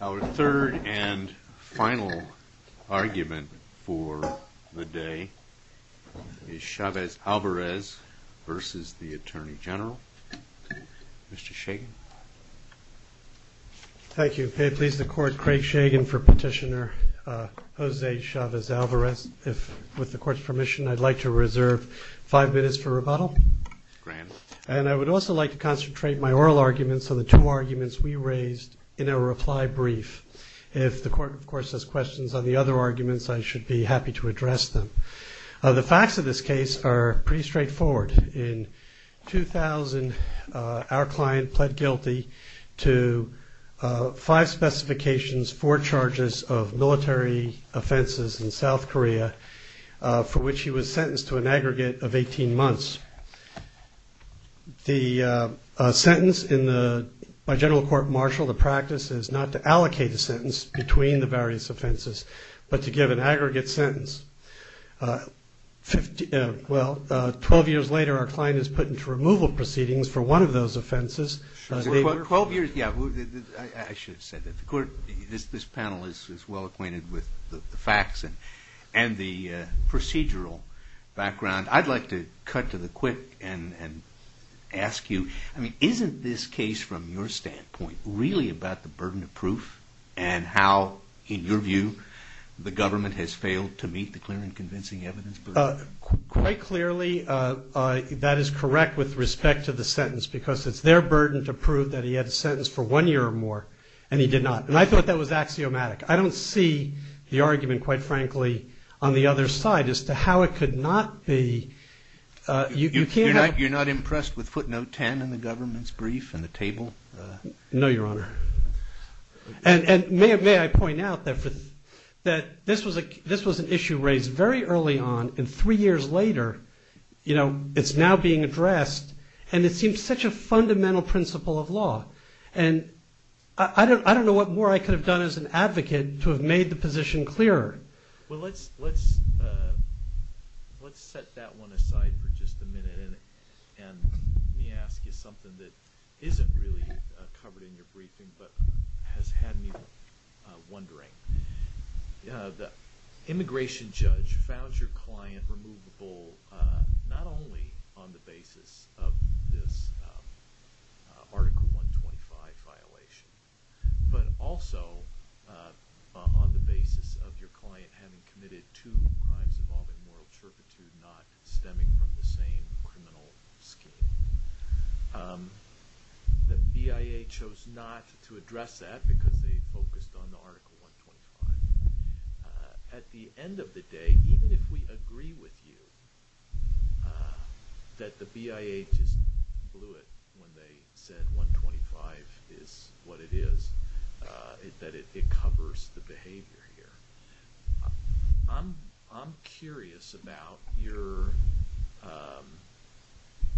Our third and final argument for the day is Chavez-Valvarez v. Atty General. Mr. Shagan. Thank you. May it please the Court, Craig Shagan for Petitioner, Jose Chavez-Valvarez. If, with the Court's permission, I'd like to reserve five minutes for rebuttal. And I would also like to concentrate my oral arguments on the two arguments we raised in our reply brief. If the Court, of course, has questions on the other arguments, I should be happy to address them. The facts of this case are pretty straightforward. In 2000, our client pled guilty to five specifications, four charges of military offenses in South Korea, for which he was sentenced to an aggregate of 18 months. The sentence by General Court-Marshall, the practice is not to allocate a sentence between the various offenses, but to give an aggregate sentence. Twelve years later, our client is put into removal proceedings for one of those offenses. Twelve years, yeah, I should have said that. The Court, this panel is well acquainted with the facts and the procedural background. I'd like to cut to the quick and ask you, I mean, isn't this case, from your standpoint, really about the burden of proof? And how, in your view, the government has failed to meet the clear and convincing evidence burden? Quite clearly, that is correct with respect to the sentence, because it's their burden to prove that he had a sentence for one year or more, and he did not. And I thought that was axiomatic. I don't see the argument, quite frankly, on the other side as to how it could not be. You're not impressed with footnote 10 in the government's brief and the table? No, Your Honor. And may I point out that this was an issue raised very early on, and three years later, it's now being addressed, and it seems such a fundamental principle of law. And I don't know what more I could have done as an advocate to have made the position clearer. Well, let's set that one aside for just a minute, and let me ask you something that isn't really covered in your briefing, but has had me wondering. The immigration judge found your client removable not only on the basis of this Article 125 violation, but also on the basis of your client having committed two crimes involving moral turpitude not stemming from the same criminal scheme. The BIA chose not to address that because they focused on the Article 125. At the end of the day, even if we agree with you that the BIA just blew it when they said 125 is what it is, that it covers the behavior here, I'm curious about your,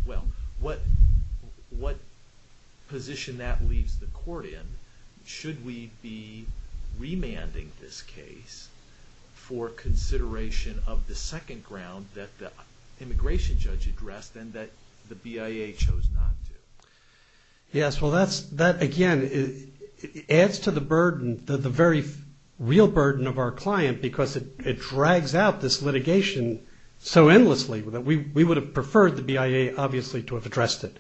well, what position that leaves the court in. Should we be remanding this case for consideration of the second ground that the immigration judge addressed and that the BIA chose not to? Yes, well, that again adds to the burden, the very real burden of our client, because it drags out this litigation so endlessly. We would have preferred the BIA, obviously, to have addressed it.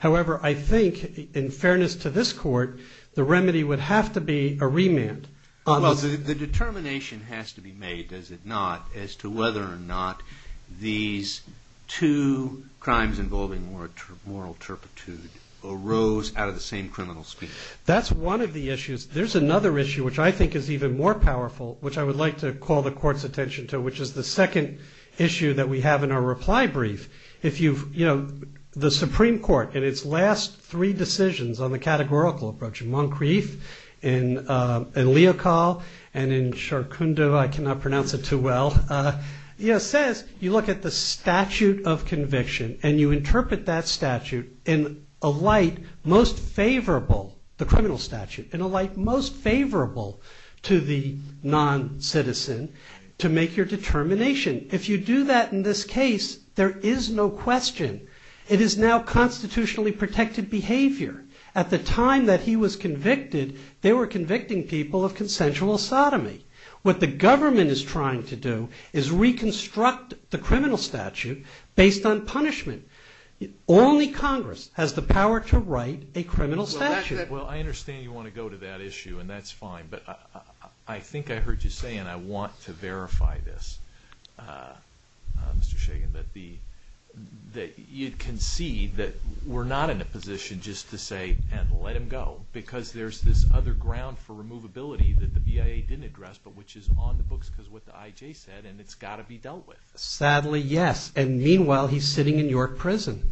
However, I think, in fairness to this court, the remedy would have to be a remand. Well, the determination has to be made, does it not, as to whether or not these two crimes involving moral turpitude arose out of the same criminal scheme. That's one of the issues. There's another issue, which I think is even more powerful, which I would like to call the court's attention to, which is the second issue that we have in our reply brief. The Supreme Court, in its last three decisions on the categorical approach, in Moncrieff, in Leocal, and in Charcondeau, I cannot pronounce it too well, says you look at the statute of conviction and you interpret that statute in a light most favorable, the criminal statute, to the non-citizen, to make your determination. If you do that in this case, there is no question. It is now constitutionally protected behavior. At the time that he was convicted, they were convicting people of consensual sodomy. What the government is trying to do is reconstruct the criminal statute based on punishment. Only Congress has the power to write a criminal statute. Well, I understand you want to go to that issue, and that's fine, but I think I heard you say, and I want to verify this, Mr. Shagan, that you concede that we're not in a position just to say, and let him go, because there's this other ground for removability that the BIA didn't address, but which is on the books because of what the IJ said, and it's got to be dealt with. Sadly, yes. And meanwhile, he's sitting in your prison.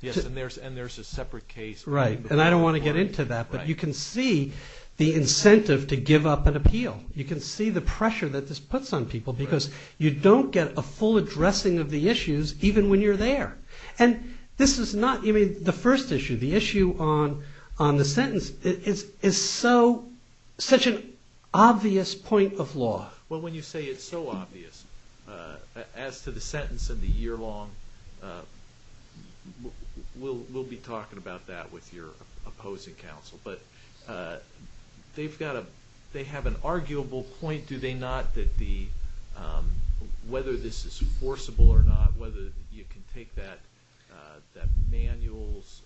Yes, and there's a separate case. Right, and I don't want to get into that, but you can see the incentive to give up an appeal. You can see the pressure that this puts on people because you don't get a full addressing of the issues even when you're there. And this is not even the first issue. The issue on the sentence is such an obvious point of law. Well, when you say it's so obvious, as to the sentence and the year-long, we'll be talking about that with your opposing counsel, but they have an arguable point, do they not, that whether this is forcible or not, whether you can take that manuals-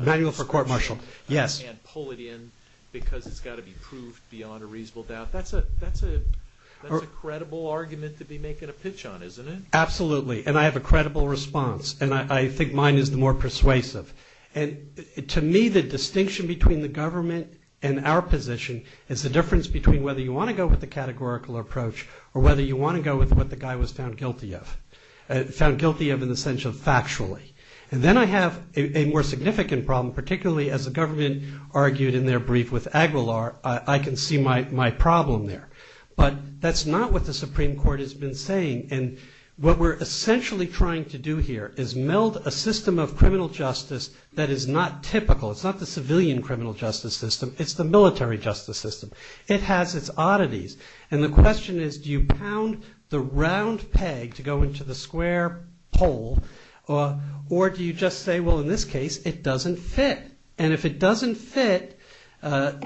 Manual for court-martial, yes. And pull it in because it's got to be proved beyond a reasonable doubt. That's a credible argument to be making a pitch on, isn't it? Absolutely, and I have a credible response, and I think mine is the more persuasive. And to me, the distinction between the government and our position is the difference between whether you want to go with the categorical approach or whether you want to go with what the guy was found guilty of, found guilty of in the sense of factually. And then I have a more significant problem, particularly as the government argued in their brief with Aguilar. I can see my problem there, but that's not what the Supreme Court has been saying. And what we're essentially trying to do here is meld a system of criminal justice that is not typical. It's not the civilian criminal justice system. It's the military justice system. It has its oddities, and the question is, do you pound the round peg to go into the square pole, or do you just say, well, in this case, it doesn't fit. And if it doesn't fit, let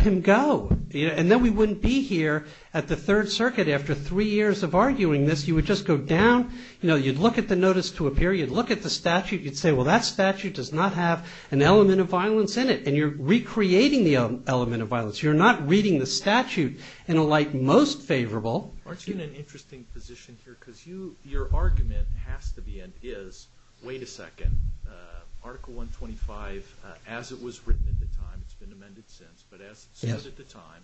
him go. And then we wouldn't be here at the Third Circuit after three years of arguing this. You would just go down. You'd look at the notice to appear. You'd look at the statute. You'd say, well, that statute does not have an element of violence in it. And you're recreating the element of violence. You're not reading the statute in a light most favorable. Aren't you in an interesting position here? Because your argument has to be and is, wait a second, Article 125, as it was written at the time, it's been amended since, but as it stood at the time,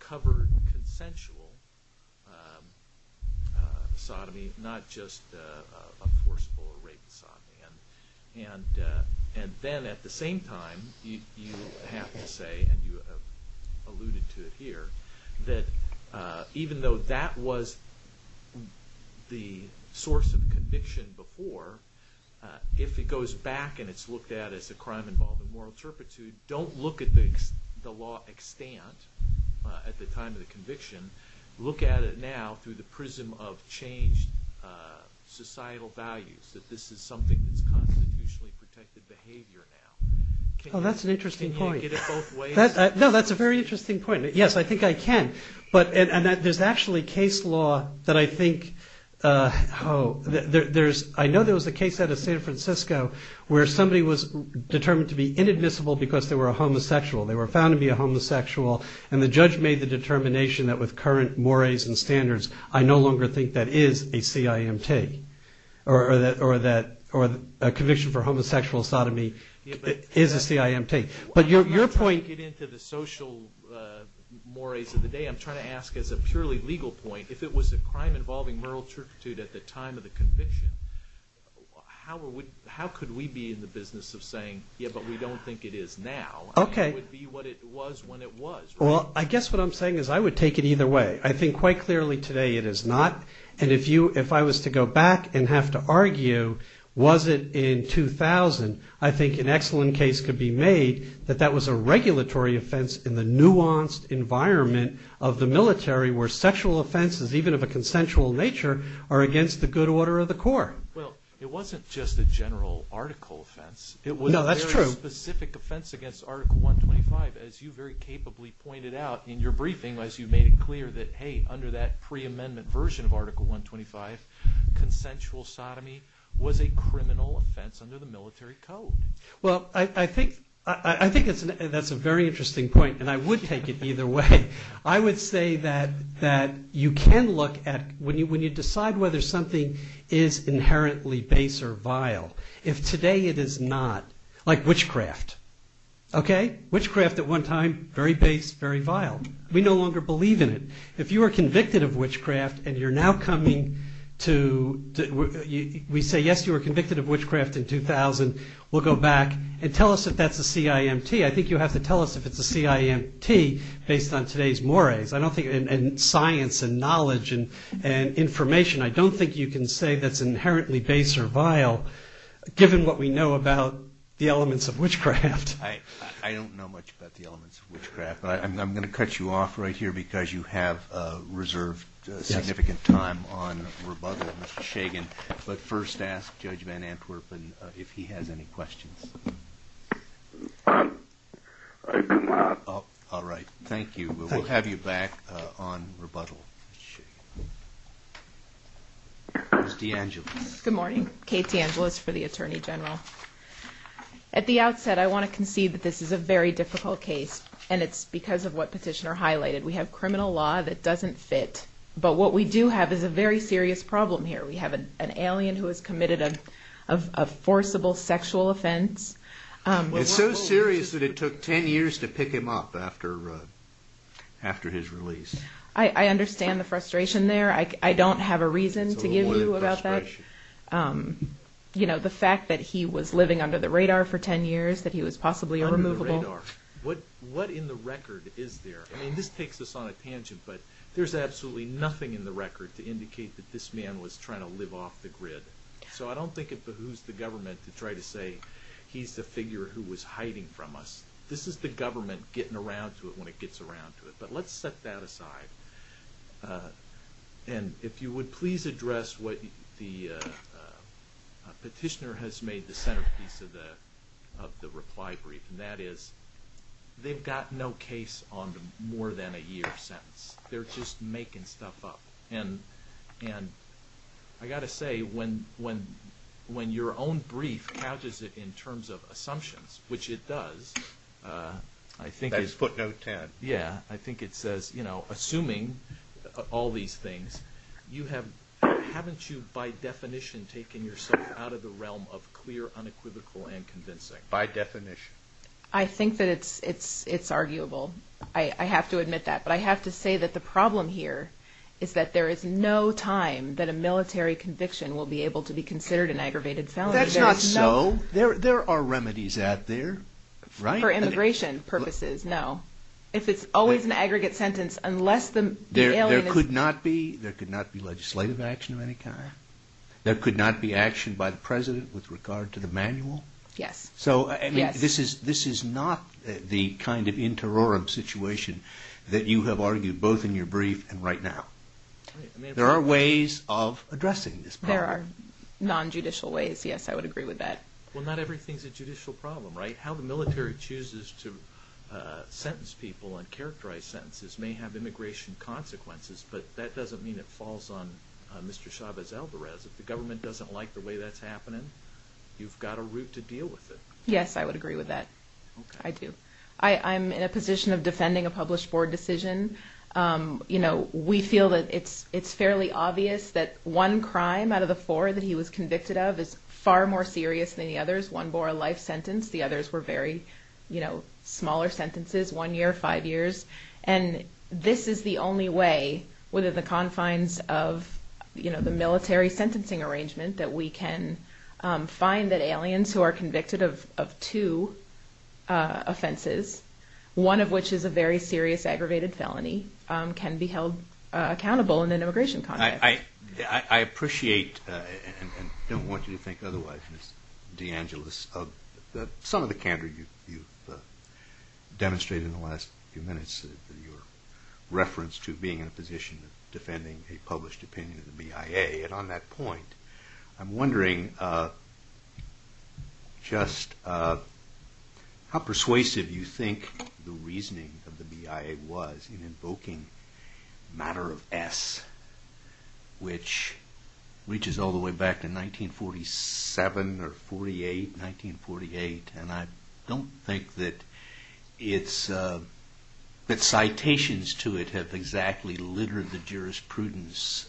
covered consensual sodomy, not just enforceable or rape sodomy. And then at the same time, you have to say, and you alluded to it here, that even though that was the source of conviction before, if it goes back and it's looked at as a crime involved in moral turpitude, don't look at the law extant at the time of the conviction. Look at it now through the prism of changed societal values, that this is something that's constitutionally protected behavior now. Oh, that's an interesting point. Can you get it both ways? No, that's a very interesting point. Yes, I think I can. And there's actually case law that I think, I know there was a case out of San Francisco where somebody was determined to be inadmissible because they were a homosexual. They were found to be a homosexual, and the judge made the determination that with current mores and standards, I no longer think that is a CIMT, or that a conviction for homosexual sodomy is a CIMT. But your point- I'm not trying to get into the social mores of the day. I'm trying to ask as a purely legal point, if it was a crime involving moral turpitude at the time of the conviction, how could we be in the business of saying, yeah, but we don't think it is now? How would it be what it was when it was? Well, I guess what I'm saying is I would take it either way. I think quite clearly today it is not, and if I was to go back and have to argue, was it in 2000, I think an excellent case could be made that that was a regulatory offense in the nuanced environment of the military where sexual offenses, even of a consensual nature, are against the good order of the court. Well, it wasn't just a general article offense. No, that's true. It was a specific offense against Article 125, as you very capably pointed out in your briefing as you made it clear that, hey, under that pre-amendment version of Article 125, consensual sodomy was a criminal offense under the military code. Well, I think that's a very interesting point, and I would take it either way. I would say that you can look at, when you decide whether something is inherently base or vile, if today it is not, like witchcraft, okay? Witchcraft at one time, very base, very vile. We no longer believe in it. If you are convicted of witchcraft and you're now coming to, we say, yes, you were convicted of witchcraft in 2000, we'll go back and tell us if that's a CIMT. I think you have to tell us if it's a CIMT based on today's mores and science and knowledge and information. I don't think you can say that's inherently base or vile, given what we know about the elements of witchcraft. I don't know much about the elements of witchcraft, but I'm going to cut you off right here because you have reserved significant time on rebuttal, Mr. Shagan. But first ask Judge Van Antwerpen if he has any questions. All right. Thank you. We'll have you back on rebuttal. Ms. DeAngelis. Good morning. Kate DeAngelis for the Attorney General. At the outset, I want to concede that this is a very difficult case, and it's because of what Petitioner highlighted. We have criminal law that doesn't fit, but what we do have is a very serious problem here. We have an alien who has committed a forcible sexual offense. It's so serious that it took 10 years to pick him up after his release. I understand the frustration there. I don't have a reason to give you about that. The fact that he was living under the radar for 10 years, that he was possibly irremovable. Under the radar. What in the record is there? I mean, this takes us on a tangent, but there's absolutely nothing in the record to indicate that this man was trying to live off the grid. So I don't think it behooves the government to try to say he's the figure who was hiding from us. This is the government getting around to it when it gets around to it, but let's set that aside. And if you would please address what the Petitioner has made the centerpiece of the reply brief, and that is they've got no case on more than a year since. They're just making stuff up. And I've got to say, when your own brief couches it in terms of assumptions, which it does. That's footnote 10. Yeah. I think it says, assuming all these things, haven't you by definition taken yourself out of the realm of clear, unequivocal, and convincing? By definition. I think that it's arguable. I have to admit that. But I have to say that the problem here is that there is no time that a military conviction will be able to be considered an aggravated felony. That's not so. There are remedies out there, right? For immigration purposes, no. If it's always an aggregate sentence, unless the alien is… There could not be legislative action of any kind? There could not be action by the President with regard to the manual? Yes. This is not the kind of interorum situation that you have argued both in your brief and right now. There are ways of addressing this problem. There are non-judicial ways, yes. I would agree with that. Well, not everything is a judicial problem, right? How the military chooses to sentence people and characterize sentences may have immigration consequences, but that doesn't mean it falls on Mr. Chavez-Alvarez. If the government doesn't like the way that's happening, you've got a route to deal with it. Yes, I would agree with that. I do. I'm in a position of defending a published board decision. We feel that it's fairly obvious that one crime out of the four that he was convicted of is far more serious than the others. One bore a life sentence. The others were very smaller sentences, one year, five years. This is the only way within the confines of the military sentencing arrangement that we can find that aliens who are convicted of two offenses, one of which is a very serious aggravated felony, can be held accountable in an immigration context. I appreciate and don't want you to think otherwise, Ms. DeAngelis, of some of the candor you've demonstrated in the last few minutes, your reference to being in a position of defending a published opinion of the BIA. And on that point, I'm wondering just how persuasive you think the reasoning of the BIA was in invoking the matter of S, which reaches all the way back to 1947 or 1948. And I don't think that citations to it have exactly littered the jurisprudence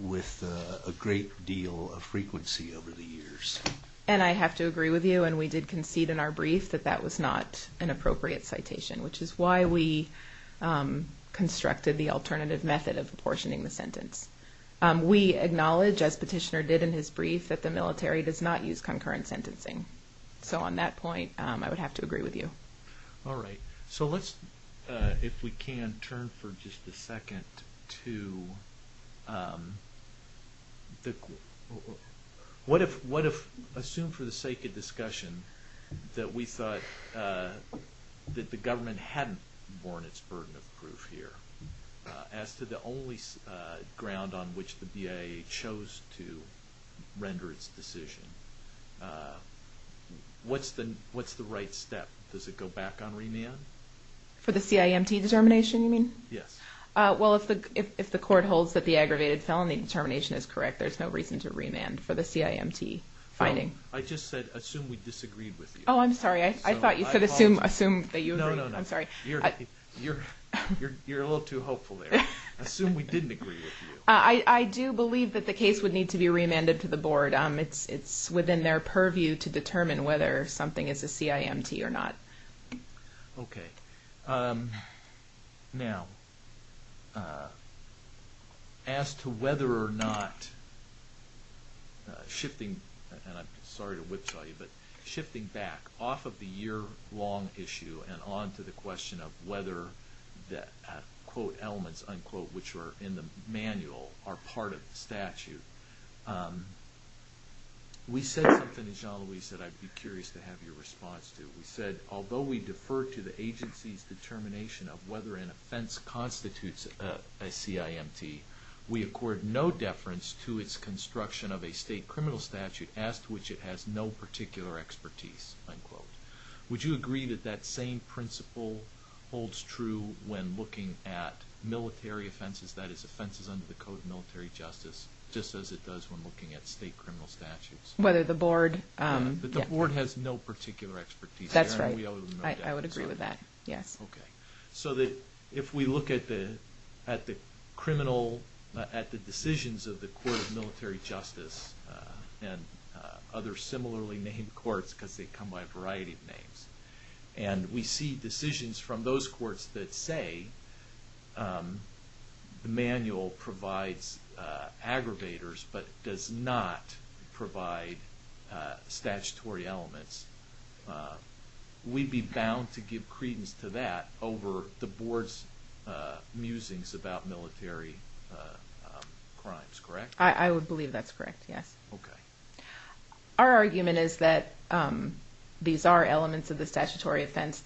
with a great deal of frequency over the years. And I have to agree with you, and we did concede in our brief, that that was not an appropriate citation, which is why we constructed the alternative method of apportioning the sentence. We acknowledge, as Petitioner did in his brief, that the military does not use concurrent sentencing. So on that point, I would have to agree with you. All right. So let's, if we can, turn for just a second to what if, assume for the sake of discussion that we thought that the government hadn't borne its burden of proof here. As to the only ground on which the BIA chose to render its decision, what's the right step? Does it go back on remand? For the CIMT determination, you mean? Yes. Well, if the court holds that the aggravated felony determination is correct, there's no reason to remand for the CIMT finding. I just said assume we disagreed with you. Oh, I'm sorry. I thought you said assume that you agreed. No, no, no. I'm sorry. You're a little too hopeful there. Assume we didn't agree with you. I do believe that the case would need to be remanded to the board. It's within their purview to determine whether something is a CIMT or not. Okay. Now, as to whether or not shifting, and I'm sorry to whipsaw you, but shifting back off of the year-long issue and on to the question of whether the, quote, elements, unquote, which are in the manual are part of the statute, we said something that Jean-Louis said I'd be curious to have your response to. We said, although we defer to the agency's determination of whether an offense constitutes a CIMT, we accord no deference to its construction of a state criminal statute as to which it has no particular expertise, unquote. Would you agree that that same principle holds true when looking at military offenses, that is, offenses under the Code of Military Justice, just as it does when looking at state criminal statutes? Whether the board, yeah. But the board has no particular expertise. That's right. I would agree with that, yes. Okay. So that if we look at the criminal, at the decisions of the Court of Military Justice and other similarly named courts because they come by a variety of names, and we see decisions from those courts that say the manual provides aggravators but does not provide statutory elements, we'd be bound to give credence to that over the board's musings about military crimes, correct? I would believe that's correct, yes. Okay. Our argument is that these are elements of the statutory offense.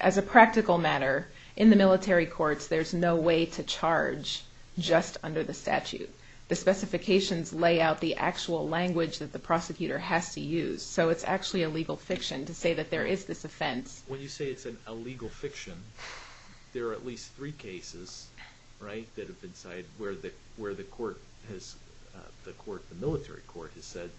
As a practical matter, in the military courts, there's no way to charge just under the statute. The specifications lay out the actual language that the prosecutor has to use. So it's actually a legal fiction to say that there is this offense. When you say it's a legal fiction, there are at least three cases, right, that have been cited where the military court has said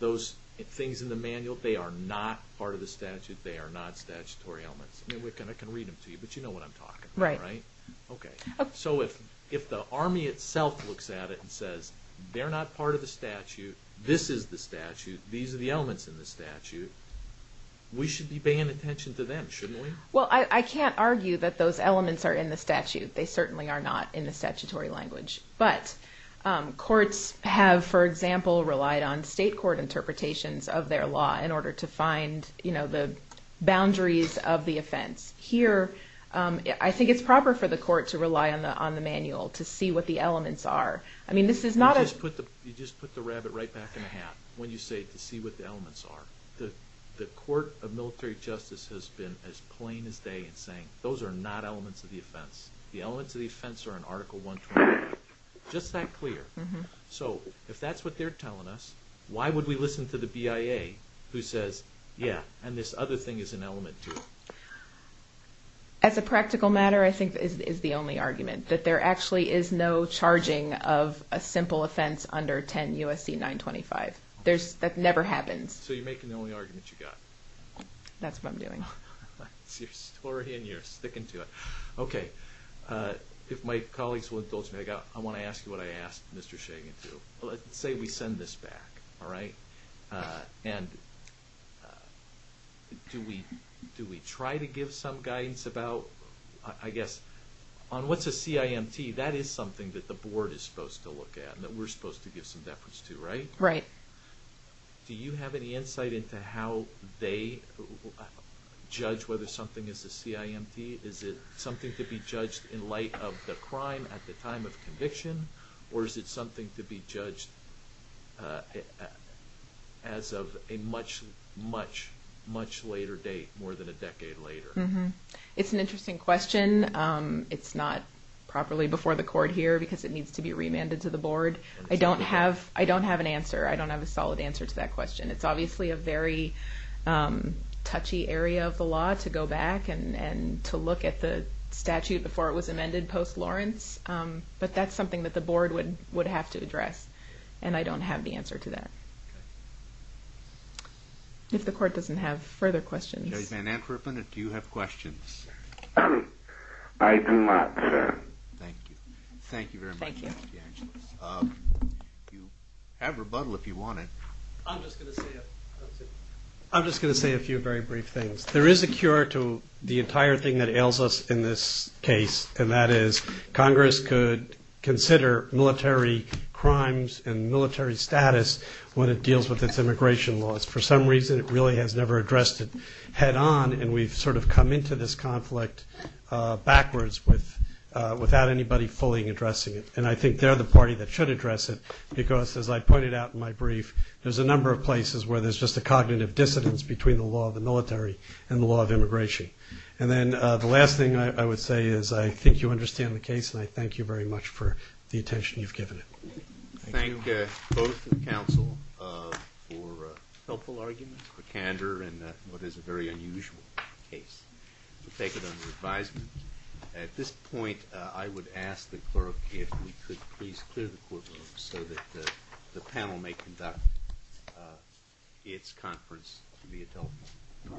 those things in the manual, they are not part of the statute, they are not statutory elements. I mean, I can read them to you, but you know what I'm talking about, right? Right. Okay. So if the Army itself looks at it and says they're not part of the statute, this is the statute, these are the elements in the statute, we should be paying attention to them, shouldn't we? Well, I can't argue that those elements are in the statute. They certainly are not in the statutory language. But courts have, for example, relied on state court interpretations of their law in order to find the boundaries of the offense. Here, I think it's proper for the court to rely on the manual to see what the elements are. I mean, this is not a... You just put the rabbit right back in the hat when you say to see what the elements are. The court of military justice has been as plain as day in saying, those are not elements of the offense. The elements of the offense are in Article 120, just that clear. So if that's what they're telling us, why would we listen to the BIA who says, yeah, and this other thing is an element too? As a practical matter, I think that is the only argument, that there actually is no charging of a simple offense under 10 U.S.C. 925. That never happens. So you're making the only argument you've got. That's what I'm doing. That's your story and you're sticking to it. Okay, if my colleagues will indulge me, I want to ask you what I asked Mr. Shagan too. Let's say we send this back, all right? And do we try to give some guidance about, I guess, on what's a CIMT? That is something that the board is supposed to look at and that we're supposed to give some deference to, right? Right. Do you have any insight into how they judge whether something is a CIMT? Is it something to be judged in light of the crime at the time of conviction or is it something to be judged as of a much, much, much later date, more than a decade later? It's an interesting question. It's not properly before the court here because it needs to be remanded to the board. I don't have an answer. I don't have a solid answer to that question. It's obviously a very touchy area of the law to go back and to look at the statute before it was amended post-Lawrence, but that's something that the board would have to address, and I don't have the answer to that. Okay. If the court doesn't have further questions. Judge Van Antwerpen, do you have questions? I do not, sir. Thank you. Thank you very much. Thank you. You have rebuttal if you want it. I'm just going to say a few very brief things. There is a cure to the entire thing that ails us in this case, and that is Congress could consider military crimes and military status when it deals with its immigration laws. For some reason, it really has never addressed it head on, and we've sort of come into this conflict backwards without anybody fully addressing it. And I think they're the party that should address it because, as I pointed out in my brief, there's a number of places where there's just a cognitive dissonance between the law of the military and the law of immigration. And then the last thing I would say is I think you understand the case, and I thank you very much for the attention you've given it. Thank you. Thank both the counsel for helpful arguments, for candor in what is a very unusual case. We'll take it under advisement. At this point, I would ask the clerk if we could please clear the courtroom so that the panel may conduct its conference via telephone.